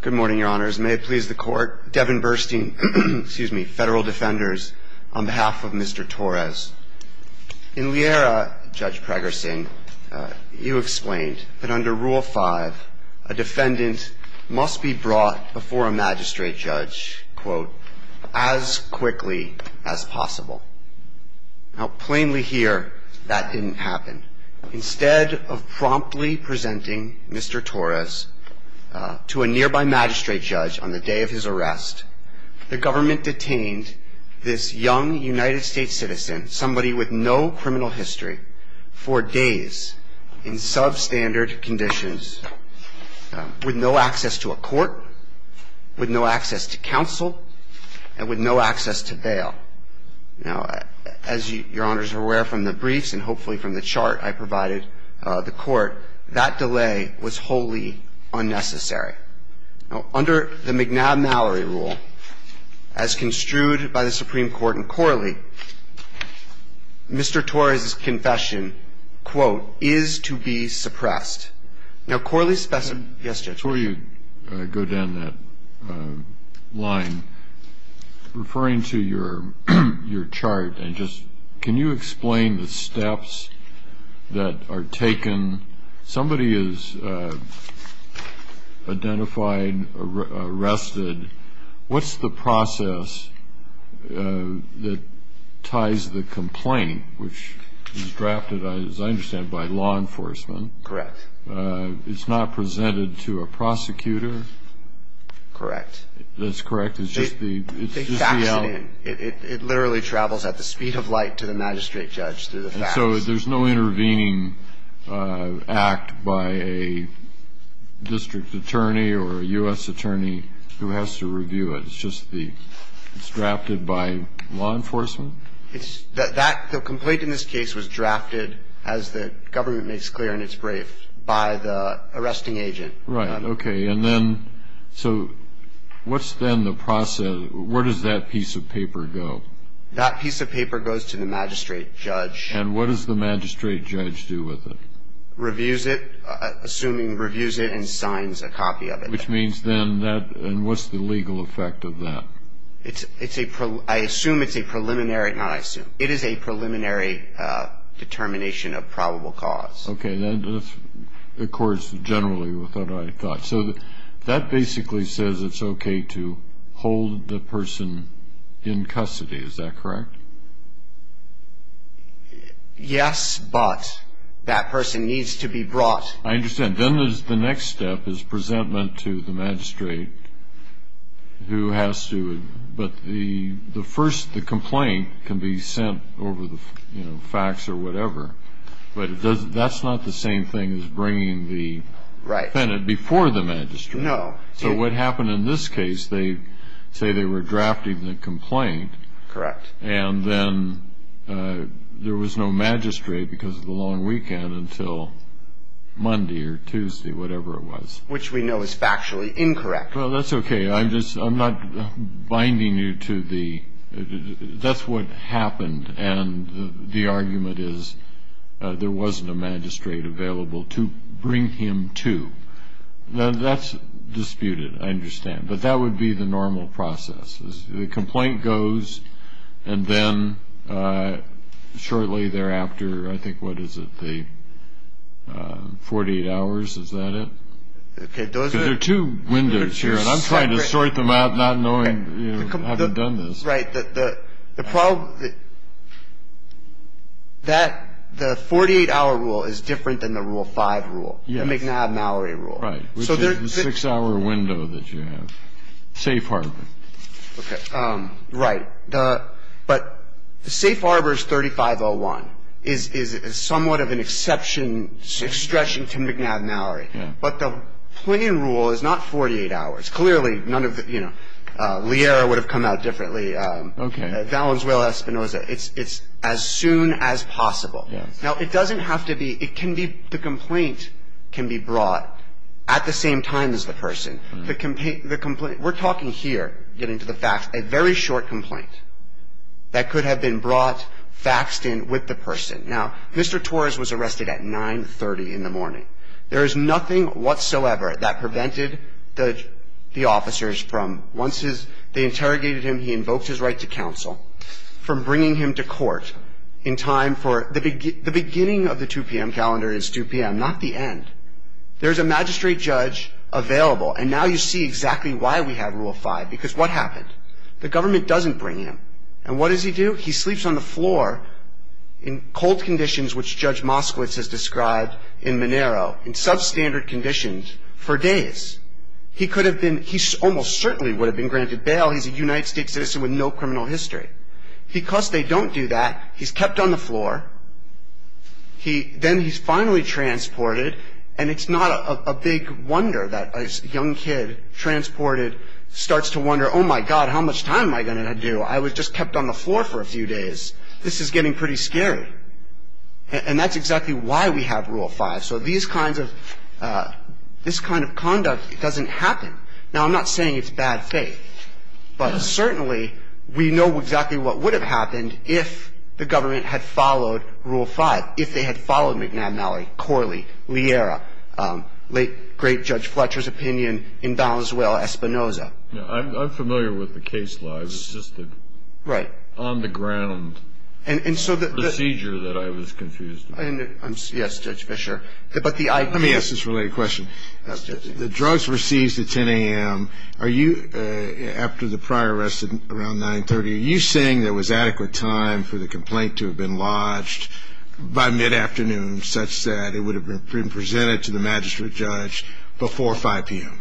Good morning, your honors. May it please the court, Devin Burstein, excuse me, Federal Defenders, on behalf of Mr. Torres. In Liera, Judge Pregerson, you explained that under Rule 5, a defendant must be brought before a magistrate judge, quote, as quickly as possible. Now, plainly here, that didn't happen. Instead of promptly presenting Mr. Torres to a nearby magistrate judge on the day of his arrest, the government detained this young United States citizen, somebody with no criminal history, for days in substandard conditions, with no access to a court, with no access to counsel, and with no access to bail. Now, as your honors are aware from the briefs and hopefully from the chart I provided the court, that delay was wholly unnecessary. Now, under the McNab-Mallory rule, as construed by the Supreme Court in Corley, Mr. Torres' confession, quote, is to be suppressed. Now, Corley's specimen, yes, Judge. Before you go down that line, referring to your chart, can you explain the steps that are taken? Somebody is identified, arrested. What's the process that ties the complaint, which is drafted, as I understand, by law enforcement? Correct. It's not presented to a prosecutor? Correct. That's correct? It's just the element? It literally travels at the speed of light to the magistrate judge through the facts. And so there's no intervening act by a district attorney or a U.S. attorney who has to review it? It's just the, it's drafted by law enforcement? The complaint in this case was drafted, as the government makes clear in its brief, by the arresting agent. Right. Okay. And then, so what's then the process, where does that piece of paper go? That piece of paper goes to the magistrate judge. And what does the magistrate judge do with it? Reviews it, assuming reviews it and signs a copy of it. Which means then that, and what's the legal effect of that? It's a, I assume it's a preliminary, not I assume, it is a preliminary determination of probable cause. Okay. That accords generally with what I thought. So that basically says it's okay to hold the person in custody, is that correct? Yes, but that person needs to be brought. I understand. Then the next step is presentment to the magistrate who has to, but the first, the complaint can be sent over the fax or whatever. But that's not the same thing as bringing the defendant before the magistrate. No. So what happened in this case, they say they were drafting the complaint. Correct. And then there was no magistrate because of the long weekend until Monday or Tuesday, whatever it was. Which we know is factually incorrect. Well, that's okay. I'm just, I'm not binding you to the, that's what happened. And the argument is there wasn't a magistrate available to bring him to. That's disputed, I understand. But that would be the normal process. The complaint goes, and then shortly thereafter, I think, what is it, the 48 hours, is that it? Okay. There are two windows here, and I'm trying to sort them out, not knowing, you know, having done this. Right. The problem, that, the 48-hour rule is different than the Rule 5 rule. Yes. The McNab-Mallory rule. Right. Which is the six-hour window that you have. Safe harbor. Okay. Right. But the safe harbor is 3501, is somewhat of an exception, exception to McNab-Mallory. Yeah. But the plain rule is not 48 hours. Clearly, none of the, you know, Liera would have come out differently. Okay. Valenzuela-Espinoza, it's as soon as possible. Yes. Now, it doesn't have to be, it can be, the complaint can be brought at the same time as the person. The complaint, we're talking here, getting to the facts, a very short complaint that could have been brought, faxed in with the person. Now, Mr. Torres was arrested at 930 in the morning. There is nothing whatsoever that prevented the officers from, once they interrogated him, he invoked his right to counsel, from bringing him to court in time for, the beginning of the 2 p.m. calendar is 2 p.m., not the end. There's a magistrate judge available. And now you see exactly why we have Rule 5, because what happened? The government doesn't bring him. And what does he do? He sleeps on the floor in cold conditions, which Judge Moskowitz has described in Monero, in substandard conditions, for days. He could have been, he almost certainly would have been granted bail. He's a United States citizen with no criminal history. Because they don't do that, he's kept on the floor. Then he's finally transported. And it's not a big wonder that a young kid transported starts to wonder, oh, my God, how much time am I going to do? I was just kept on the floor for a few days. This is getting pretty scary. And that's exactly why we have Rule 5. So these kinds of, this kind of conduct doesn't happen. Now, I'm not saying it's bad faith, but certainly we know exactly what would have happened if the government had followed Rule 5, if they had followed McNab-Malley, Corley, Liera, late great Judge Fletcher's opinion in Valenzuela-Espinoza. I'm familiar with the case law. It's just the on-the-ground procedure that I was confused about. Yes, Judge Fischer. Let me ask this related question. The drugs were seized at 10 a.m. Are you, after the prior arrest at around 9.30, are you saying there was adequate time for the complaint to have been lodged by mid-afternoon such that it would have been presented to the magistrate judge before 5 p.m.?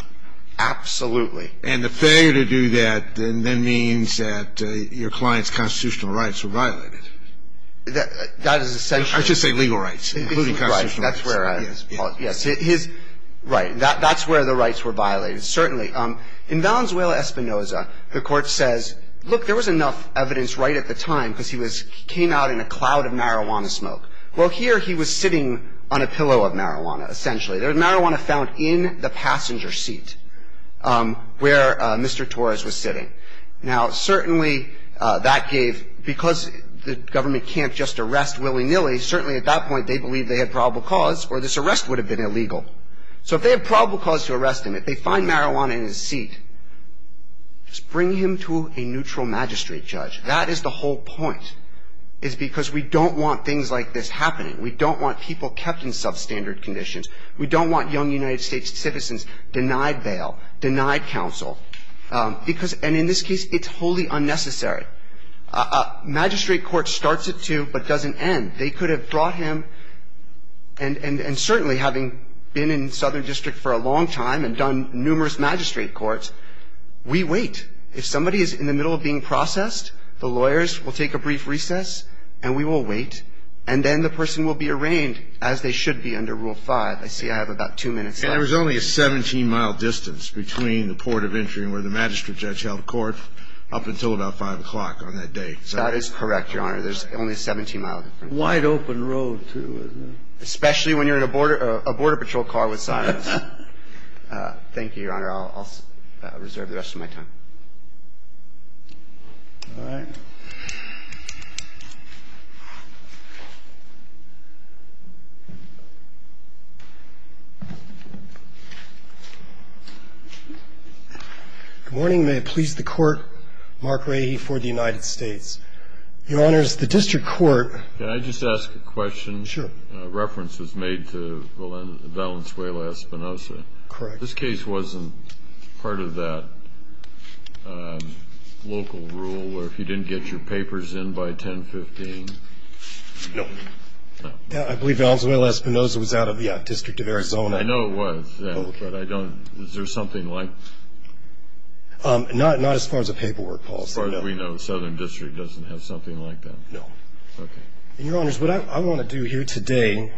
Absolutely. And the failure to do that then means that your client's constitutional rights were violated. I should say legal rights, including constitutional rights. Yes. Right. That's where the rights were violated, certainly. In Valenzuela-Espinoza, the court says, look, there was enough evidence right at the time because he came out in a cloud of marijuana smoke. Well, here he was sitting on a pillow of marijuana, essentially. There was marijuana found in the passenger seat where Mr. Torres was sitting. Well, certainly at that point they believed they had probable cause or this arrest would have been illegal. So if they have probable cause to arrest him, if they find marijuana in his seat, just bring him to a neutral magistrate judge. That is the whole point, is because we don't want things like this happening. We don't want people kept in substandard conditions. We don't want young United States citizens denied bail, denied counsel. And in this case, it's wholly unnecessary. A magistrate court starts it to but doesn't end. They could have brought him, and certainly having been in Southern District for a long time and done numerous magistrate courts, we wait. If somebody is in the middle of being processed, the lawyers will take a brief recess and we will wait, and then the person will be arraigned as they should be under Rule 5. I see I have about two minutes left. There was only a 17-mile distance between the port of entry where the magistrate judge held court up until about 5 o'clock on that day. That is correct, Your Honor. There's only a 17-mile difference. Wide open road, too, isn't there? Especially when you're in a border patrol car with signs. Thank you, Your Honor. I'll reserve the rest of my time. All right. Good morning. May it please the Court. Mark Rahe for the United States. Your Honors, the district court ---- Can I just ask a question? Sure. A reference was made to Valenzuela-Espinosa. Correct. This case wasn't part of that local rule where if you didn't get your papers in by 1015 ---- No. No. I believe Valenzuela-Espinosa was out of the District of Arizona. I know it was, but I don't ---- Okay. Is there something like ---- Not as far as a paperwork policy, no. As far as we know, the Southern District doesn't have something like that. No. Okay. Your Honors, what I want to do here today,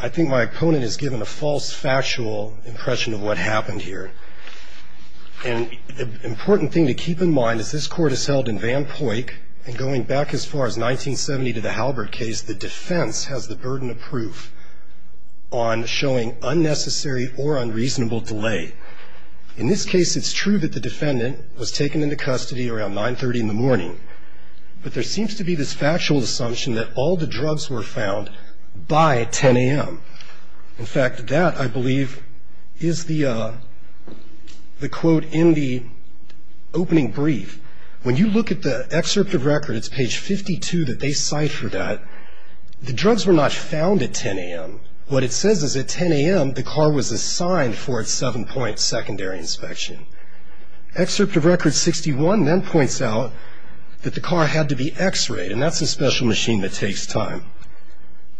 I think my opponent has given a false factual impression of what happened here. And the important thing to keep in mind is this Court is held in Van Poyck, and going back as far as 1970 to the Halbert case, the defense has the burden of proof on showing unnecessary or unreasonable delay. In this case, it's true that the defendant was taken into custody around 930 in the morning. But there seems to be this factual assumption that all the drugs were found by 10 a.m. In fact, that, I believe, is the quote in the opening brief. When you look at the excerpt of record, it's page 52, that they ciphered that. The drugs were not found at 10 a.m. What it says is at 10 a.m., the car was assigned for its seven-point secondary inspection. Excerpt of record 61 then points out that the car had to be x-rayed, and that's a special machine that takes time.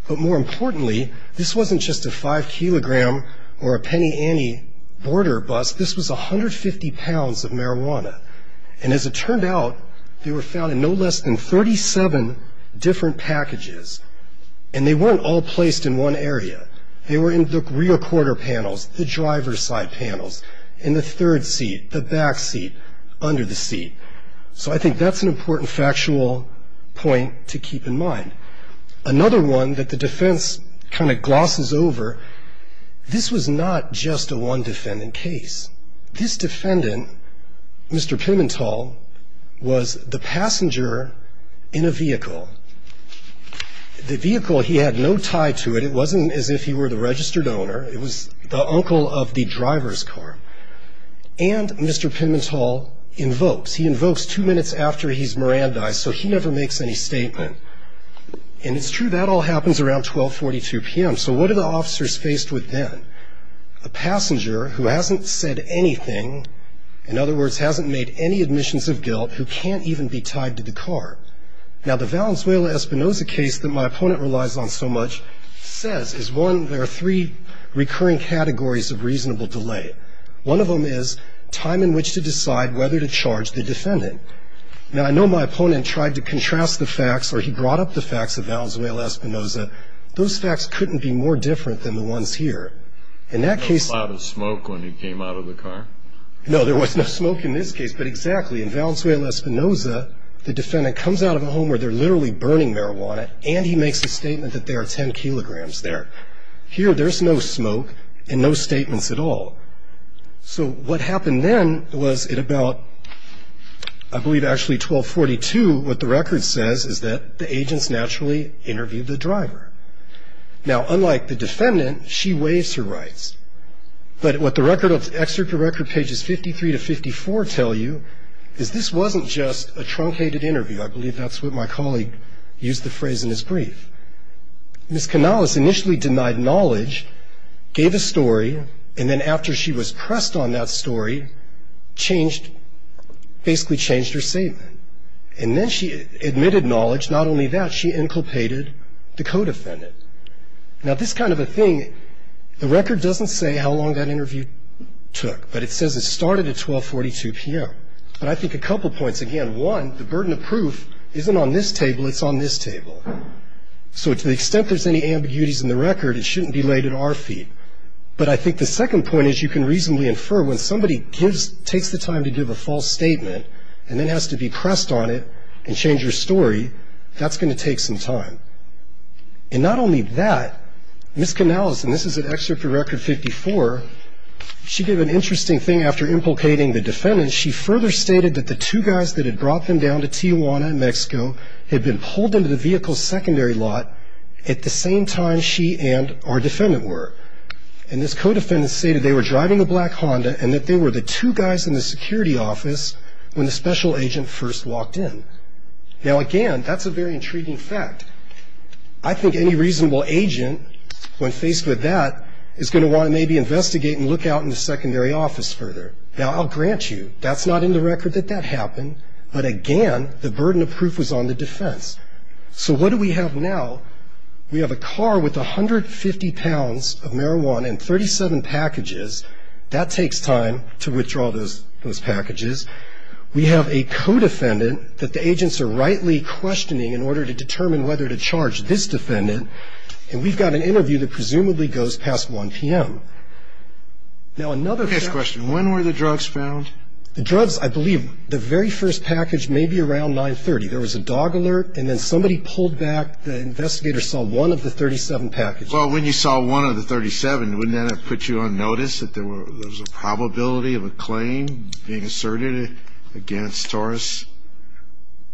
But more importantly, this wasn't just a five-kilogram or a penny-ante border bust. This was 150 pounds of marijuana. And as it turned out, they were found in no less than 37 different packages. And they weren't all placed in one area. They were in the rear quarter panels, the driver's side panels, in the third seat, the back seat, under the seat. So I think that's an important factual point to keep in mind. Another one that the defense kind of glosses over, this was not just a one-defendant case. This defendant, Mr. Pimentel, was the passenger in a vehicle. The vehicle, he had no tie to it. It wasn't as if he were the registered owner. It was the uncle of the driver's car. And Mr. Pimentel invokes. He invokes two minutes after he's Mirandized, so he never makes any statement. And it's true, that all happens around 1242 p.m. So what are the officers faced with then? A passenger who hasn't said anything, in other words, hasn't made any admissions of guilt, who can't even be tied to the car. Now, the Valenzuela-Espinoza case that my opponent relies on so much says is one, there are three recurring categories of reasonable delay. One of them is time in which to decide whether to charge the defendant. Now, I know my opponent tried to contrast the facts, or he brought up the facts of Valenzuela-Espinoza. Those facts couldn't be more different than the ones here. In that case. There was no cloud of smoke when he came out of the car? No, there was no smoke in this case, but exactly. In Valenzuela-Espinoza, the defendant comes out of a home where they're literally burning marijuana, and he makes a statement that there are 10 kilograms there. Here, there's no smoke and no statements at all. So what happened then was at about, I believe, actually 1242, what the record says is that the agents naturally interviewed the driver. But what the record of, excerpt from record pages 53 to 54 tell you is this wasn't just a truncated interview. I believe that's what my colleague used the phrase in his brief. Ms. Canales initially denied knowledge, gave a story, and then after she was pressed on that story, changed, basically changed her statement. And then she admitted knowledge, not only that, she inculpated the co-defendant. Now, this kind of a thing, the record doesn't say how long that interview took, but it says it started at 1242 p.m. But I think a couple points, again, one, the burden of proof isn't on this table, it's on this table. So to the extent there's any ambiguities in the record, it shouldn't be laid at our feet. But I think the second point is you can reasonably infer when somebody takes the time to give a false statement and then has to be pressed on it and change your story, that's going to take some time. And not only that, Ms. Canales, and this is an excerpt from Record 54, she did an interesting thing after implicating the defendant. She further stated that the two guys that had brought them down to Tijuana, Mexico, had been pulled into the vehicle's secondary lot at the same time she and our defendant were. And this co-defendant stated they were driving a black Honda and that they were the two guys in the security office when the special agent first walked in. Now, again, that's a very intriguing fact. I think any reasonable agent, when faced with that, is going to want to maybe investigate and look out in the secondary office further. Now, I'll grant you, that's not in the record that that happened, but again, the burden of proof was on the defense. So what do we have now? We have a car with 150 pounds of marijuana and 37 packages. That takes time to withdraw those packages. We have a co-defendant that the agents are rightly questioning in order to determine whether to charge this defendant. And we've got an interview that presumably goes past 1 p.m. Now, another thing. Next question. When were the drugs found? The drugs, I believe, the very first package may be around 930. There was a dog alert, and then somebody pulled back. The investigator saw one of the 37 packages. Well, when you saw one of the 37, wouldn't that have put you on notice that there was a probability of a claim being asserted against Taurus?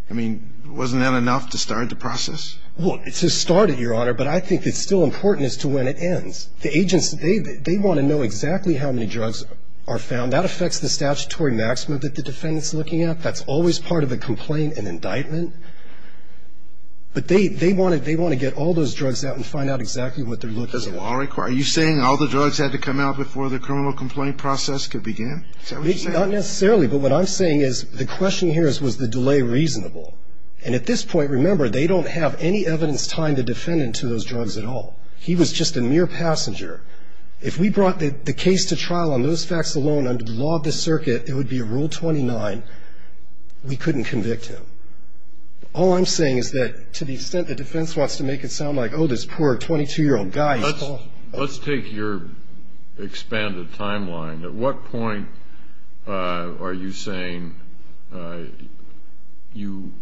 I mean, wasn't that enough to start the process? Well, to start it, Your Honor, but I think it's still important as to when it ends. The agents, they want to know exactly how many drugs are found. That affects the statutory maximum that the defendant's looking at. That's always part of a complaint, an indictment. But they want to get all those drugs out and find out exactly what they're looking for. Does the law require it? Are you saying all the drugs had to come out before the criminal complaint process could begin? Is that what you're saying? Not necessarily, but what I'm saying is the question here is, was the delay reasonable? And at this point, remember, they don't have any evidence tying the defendant to those drugs at all. He was just a mere passenger. If we brought the case to trial on those facts alone, under the law of the circuit, it would be Rule 29, we couldn't convict him. All I'm saying is that to the extent the defense wants to make it sound like, oh, this poor 22-year-old guy. Let's take your expanded timeline. At what point are you saying you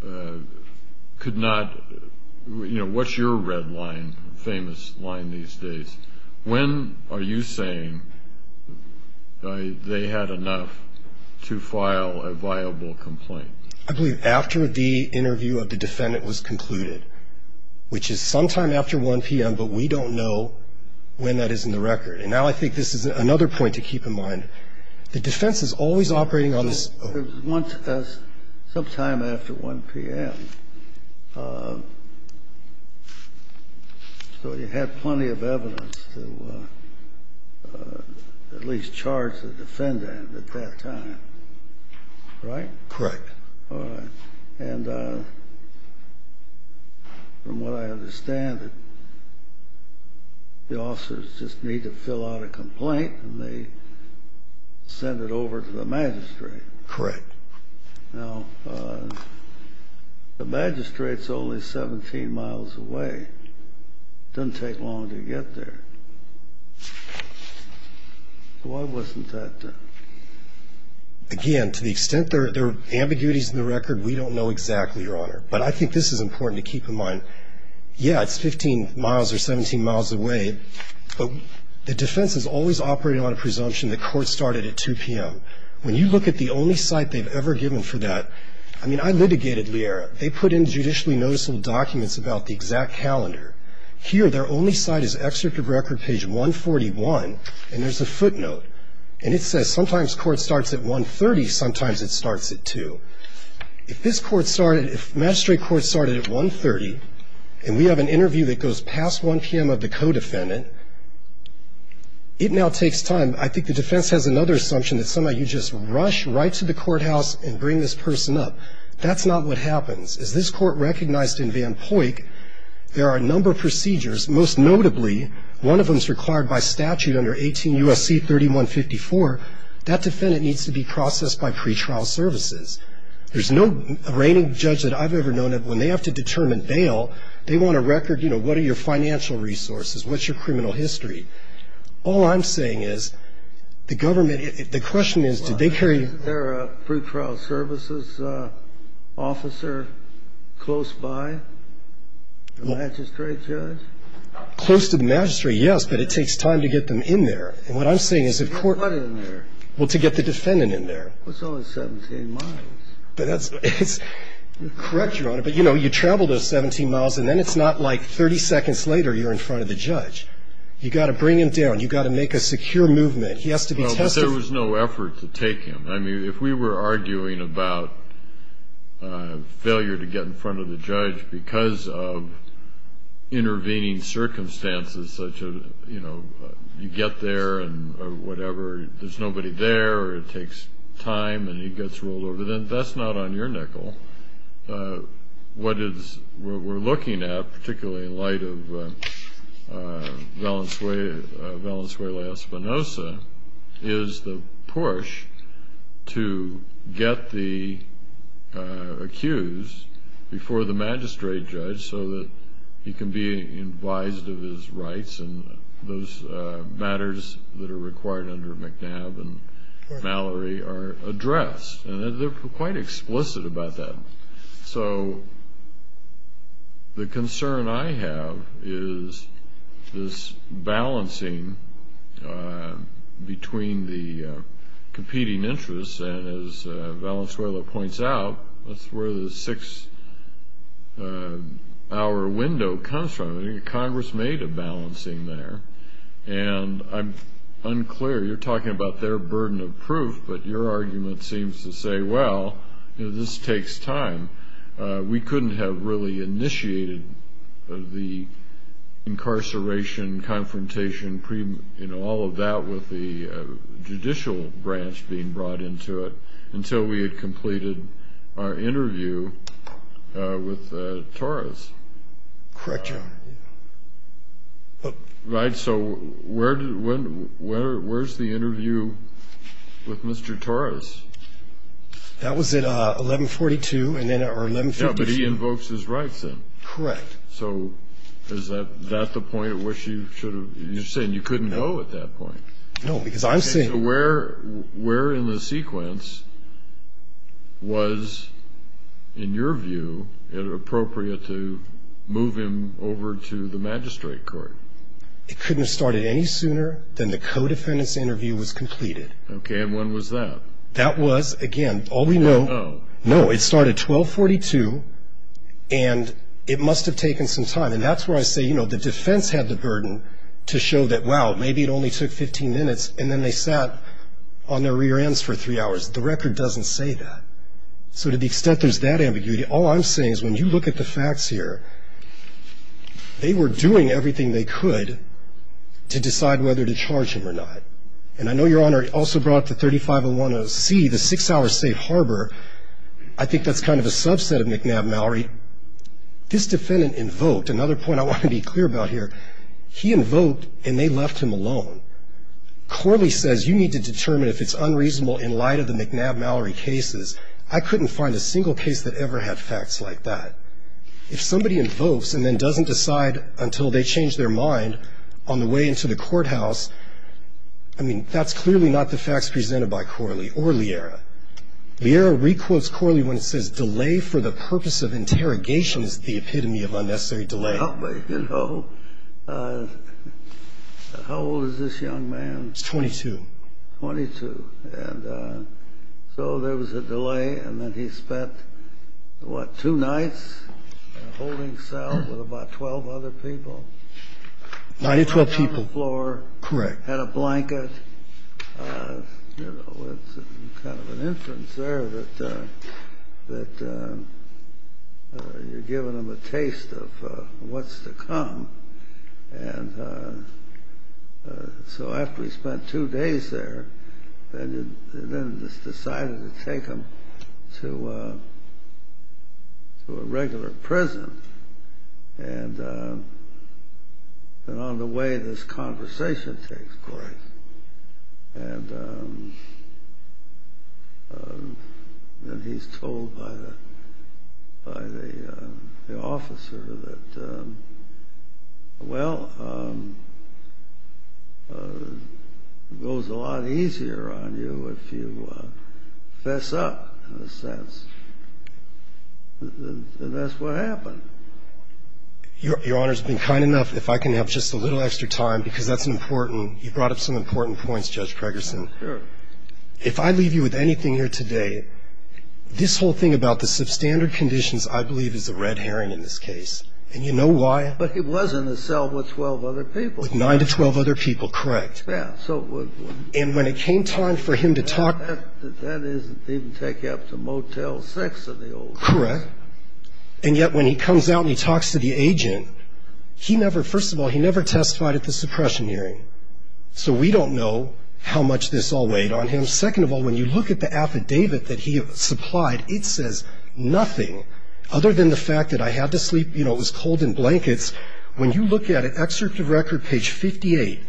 could not, you know, what's your red line, famous line these days? When are you saying they had enough to file a viable complaint? I believe after the interview of the defendant was concluded, which is sometime after 1 p.m., but we don't know when that is in the record. And now I think this is another point to keep in mind. The defense is always operating on this. It was sometime after 1 p.m., so you had plenty of evidence to at least charge the defendant at that time, right? Correct. All right. And from what I understand, the officers just need to fill out a complaint and they send it over to the magistrate. Correct. Now, the magistrate's only 17 miles away. It doesn't take long to get there. Why wasn't that done? Again, to the extent there are ambiguities in the record, we don't know exactly, Your Honor. But I think this is important to keep in mind. Yeah, it's 15 miles or 17 miles away, but the defense is always operating on a presumption that court started at 2 p.m. When you look at the only cite they've ever given for that, I mean, I litigated Liera. They put in judicially noticeable documents about the exact calendar. Here, their only cite is excerpt of record page 141, and there's a footnote. And it says sometimes court starts at 1.30, sometimes it starts at 2. If this court started, if magistrate court started at 1.30, and we have an interview that goes past 1 p.m. of the co-defendant, it now takes time. I think the defense has another assumption that somehow you just rush right to the courthouse and bring this person up. That's not what happens. As this court recognized in Van Poyck, there are a number of procedures. Most notably, one of them is required by statute under 18 U.S.C. 3154. That defendant needs to be processed by pretrial services. There's no reigning judge that I've ever known that when they have to determine bail, they want a record, you know, what are your financial resources, what's your criminal history. All I'm saying is the government, the question is, did they carry you? Was there a pretrial services officer close by? The magistrate judge? Close to the magistrate, yes, but it takes time to get them in there. And what I'm saying is if court. To get what in there? Well, to get the defendant in there. Well, it's only 17 miles. Correct, Your Honor, but, you know, you travel those 17 miles, and then it's not like 30 seconds later you're in front of the judge. You've got to bring him down. You've got to make a secure movement. He has to be tested. There was no effort to take him. I mean, if we were arguing about failure to get in front of the judge because of intervening circumstances such as, you know, you get there and whatever, there's nobody there, it takes time, and he gets rolled over, then that's not on your nickel. What we're looking at, particularly in light of Valenzuela-Espinosa, is the push to get the accused before the magistrate judge so that he can be advised of his rights and those matters that are required under McNabb and Mallory are addressed. And they're quite explicit about that. So the concern I have is this balancing between the competing interests, and as Valenzuela points out, that's where the six-hour window comes from. Congress made a balancing there, and I'm unclear. You're talking about their burden of proof, but your argument seems to say, well, this takes time. We couldn't have really initiated the incarceration, confrontation, all of that with the judicial branch being brought into it until we had completed our interview with Torres. Correct, Your Honor. Right, so where's the interview with Mr. Torres? That was at 1142 or 1152. Yeah, but he invokes his rights then. Correct. So is that the point at which you should have – you're saying you couldn't know at that point. No, because I'm saying – So where in the sequence was, in your view, it appropriate to move him over to the magistrate court? It couldn't have started any sooner than the co-defendant's interview was completed. Okay, and when was that? That was, again, all we know – No. No, it started 1242, and it must have taken some time. And that's where I say, you know, the defense had the burden to show that, wow, maybe it only took 15 minutes, and then they sat on their rear ends for three hours. The record doesn't say that. So to the extent there's that ambiguity, all I'm saying is when you look at the facts here, they were doing everything they could to decide whether to charge him or not. And I know, Your Honor, it also brought up the 3501C, the six-hour safe harbor. I think that's kind of a subset of McNabb-Mallory. This defendant invoked – another point I want to be clear about here – he invoked, and they left him alone. Corley says, you need to determine if it's unreasonable in light of the McNabb-Mallory cases. I couldn't find a single case that ever had facts like that. If somebody invokes and then doesn't decide until they change their mind on the way into the courthouse, I mean, that's clearly not the facts presented by Corley or Lierra. Lierra re-quotes Corley when it says, delay for the purpose of interrogation is the epitome of unnecessary delay. So there was a delay. And he spent, what, two nights holding cell with about 12 other people? Nine or 12 people. Down on the floor. Correct. Had a blanket. You know, it's kind of an inference there that you're giving them a taste of what's the effect of the delay. Of what's to come. And so after he spent two days there, then they decided to take him to a regular prison. And on the way this conversation takes course. And then he's told by the officer that, well, it goes a lot easier on you if you fess up, in a sense. And that's what happened. Your Honor's been kind enough, if I can have just a little extra time, because that's important. You brought up some important points, Judge Gregerson. Sure. If I leave you with anything here today, this whole thing about the substandard conditions I believe is a red herring in this case. And you know why? But he was in the cell with 12 other people. With nine to 12 other people, correct. Yeah. And when it came time for him to talk. That doesn't even take you up to Motel 6 in the old days. Correct. And yet when he comes out and he talks to the agent, he never, first of all, he never testified at the suppression hearing. So we don't know how much this all weighed on him. Second of all, when you look at the affidavit that he supplied, it says nothing. Other than the fact that I had to sleep, you know, it was cold in blankets. When you look at it, excerpt of record, page 58,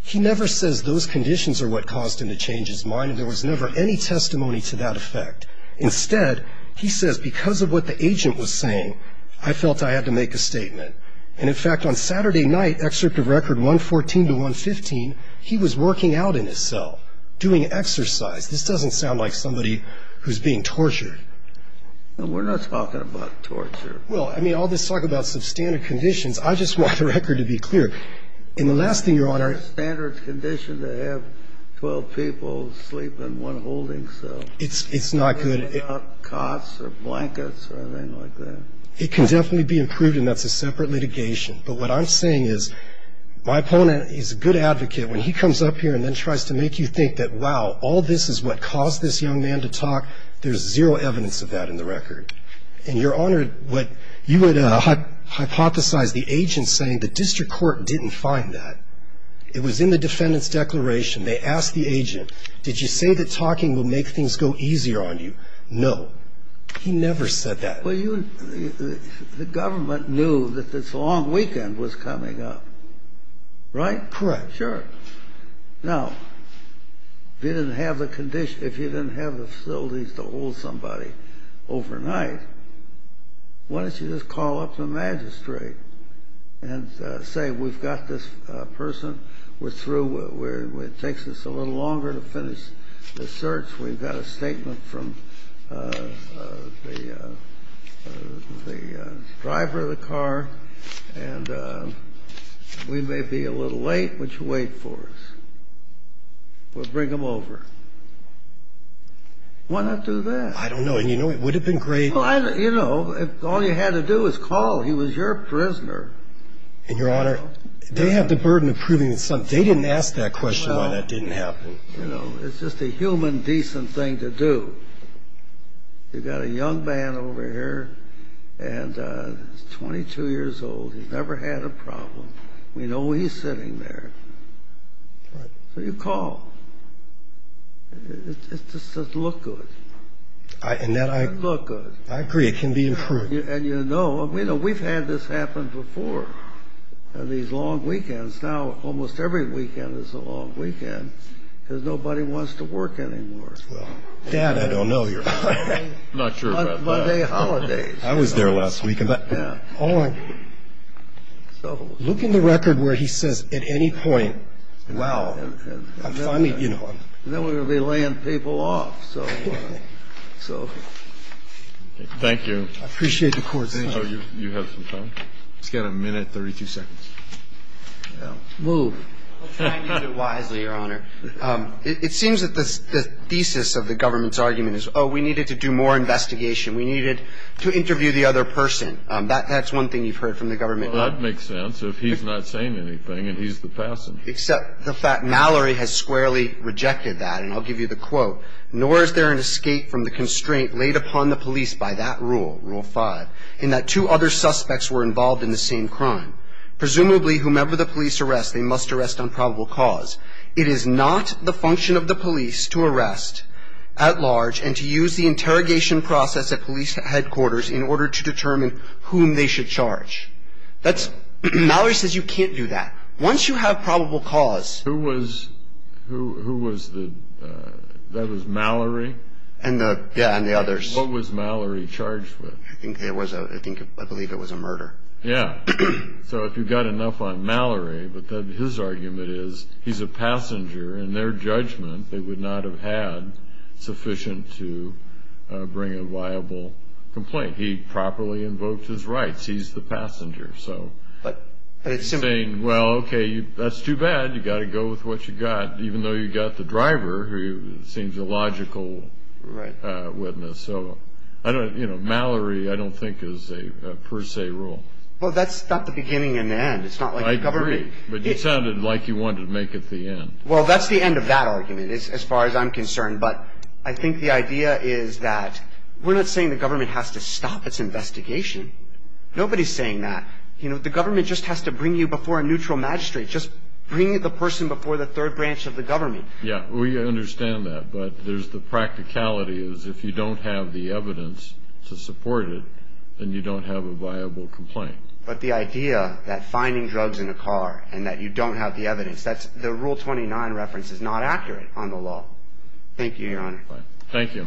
he never says those conditions are what caused him to change his mind. And there was never any testimony to that effect. Instead, he says because of what the agent was saying, I felt I had to make a statement. And, in fact, on Saturday night, excerpt of record 114 to 115, he was working out in his cell, doing exercise. This doesn't sound like somebody who's being tortured. We're not talking about torture. Well, I mean, all this talk about substandard conditions, I just want the record to be clear. And the last thing, Your Honor. It's a standard condition to have 12 people sleep in one holding cell. It's not good. Cots or blankets or anything like that. It can definitely be improved, and that's a separate litigation. But what I'm saying is my opponent is a good advocate. When he comes up here and then tries to make you think that, wow, all this is what caused this young man to talk, there's zero evidence of that in the record. And, Your Honor, what you would hypothesize the agent saying, the district court didn't find that. It was in the defendant's declaration. They asked the agent, did you say that talking would make things go easier on you? No. He never said that. Well, the government knew that this long weekend was coming up. Right? Correct. Sure. Now, if you didn't have the facilities to hold somebody overnight, why don't you just call up the magistrate and say, we've got this person. We're through. It takes us a little longer to finish the search. We've got a statement from the driver of the car, and we may be a little late, but you wait for us. We'll bring him over. Why not do that? I don't know. And you know, it would have been great. You know, all you had to do was call. He was your prisoner. And, Your Honor, they have the burden of proving something. They didn't ask that question why that didn't happen. Well, you know, it's just a human, decent thing to do. You've got a young man over here, and he's 22 years old. He's never had a problem. We know he's sitting there. Right. So you call. It just doesn't look good. And that I agree. It doesn't look good. I agree. It can be improved. And you know, we've had this happen before, these long weekends. Now almost every weekend is a long weekend because nobody wants to work anymore. Dad, I don't know you. I'm not sure about that. Monday holidays. I was there last week. Look in the record where he says, at any point, wow. And then we're going to be laying people off. Thank you. I appreciate the court's time. Thank you. You have some time? He's got a minute, 32 seconds. Move. I'll try to do it wisely, Your Honor. It seems that the thesis of the government's argument is, oh, we needed to do more investigation. We needed to interview the other person. That's one thing you've heard from the government. Well, that makes sense. If he's not saying anything, then he's the passenger. Except the fact Mallory has squarely rejected that. And I'll give you the quote. Mallory says you can't do that. Once you have probable cause... Who was the... that was Mallory? Yeah, and the others. What was Mallory charged with? I believe it was a murder. Yeah, so if you've got enough on Mallory, but then his argument is he's a passenger, and their judgment they would not have had sufficient He properly invoked his rights. He's the passenger. He's saying, well, okay, that's too bad. You've got to go with what you've got, even though you've got the driver, who seems a logical witness. So Mallory I don't think is a per se rule. Well, that's not the beginning and the end. I agree, but you sounded like you wanted to make it the end. Well, that's the end of that argument, as far as I'm concerned, but I think the idea is that we're not saying the government has to stop its investigation. Nobody's saying that. The government just has to bring you before a neutral magistrate, just bring the person before the third branch of the government. Yeah, we understand that, but there's the practicality is if you don't have the evidence to support it, then you don't have a viable complaint. But the idea that finding drugs in a car and that you don't have the evidence, the Rule 29 reference is not accurate on the law. Thank you, Your Honor. Thank you.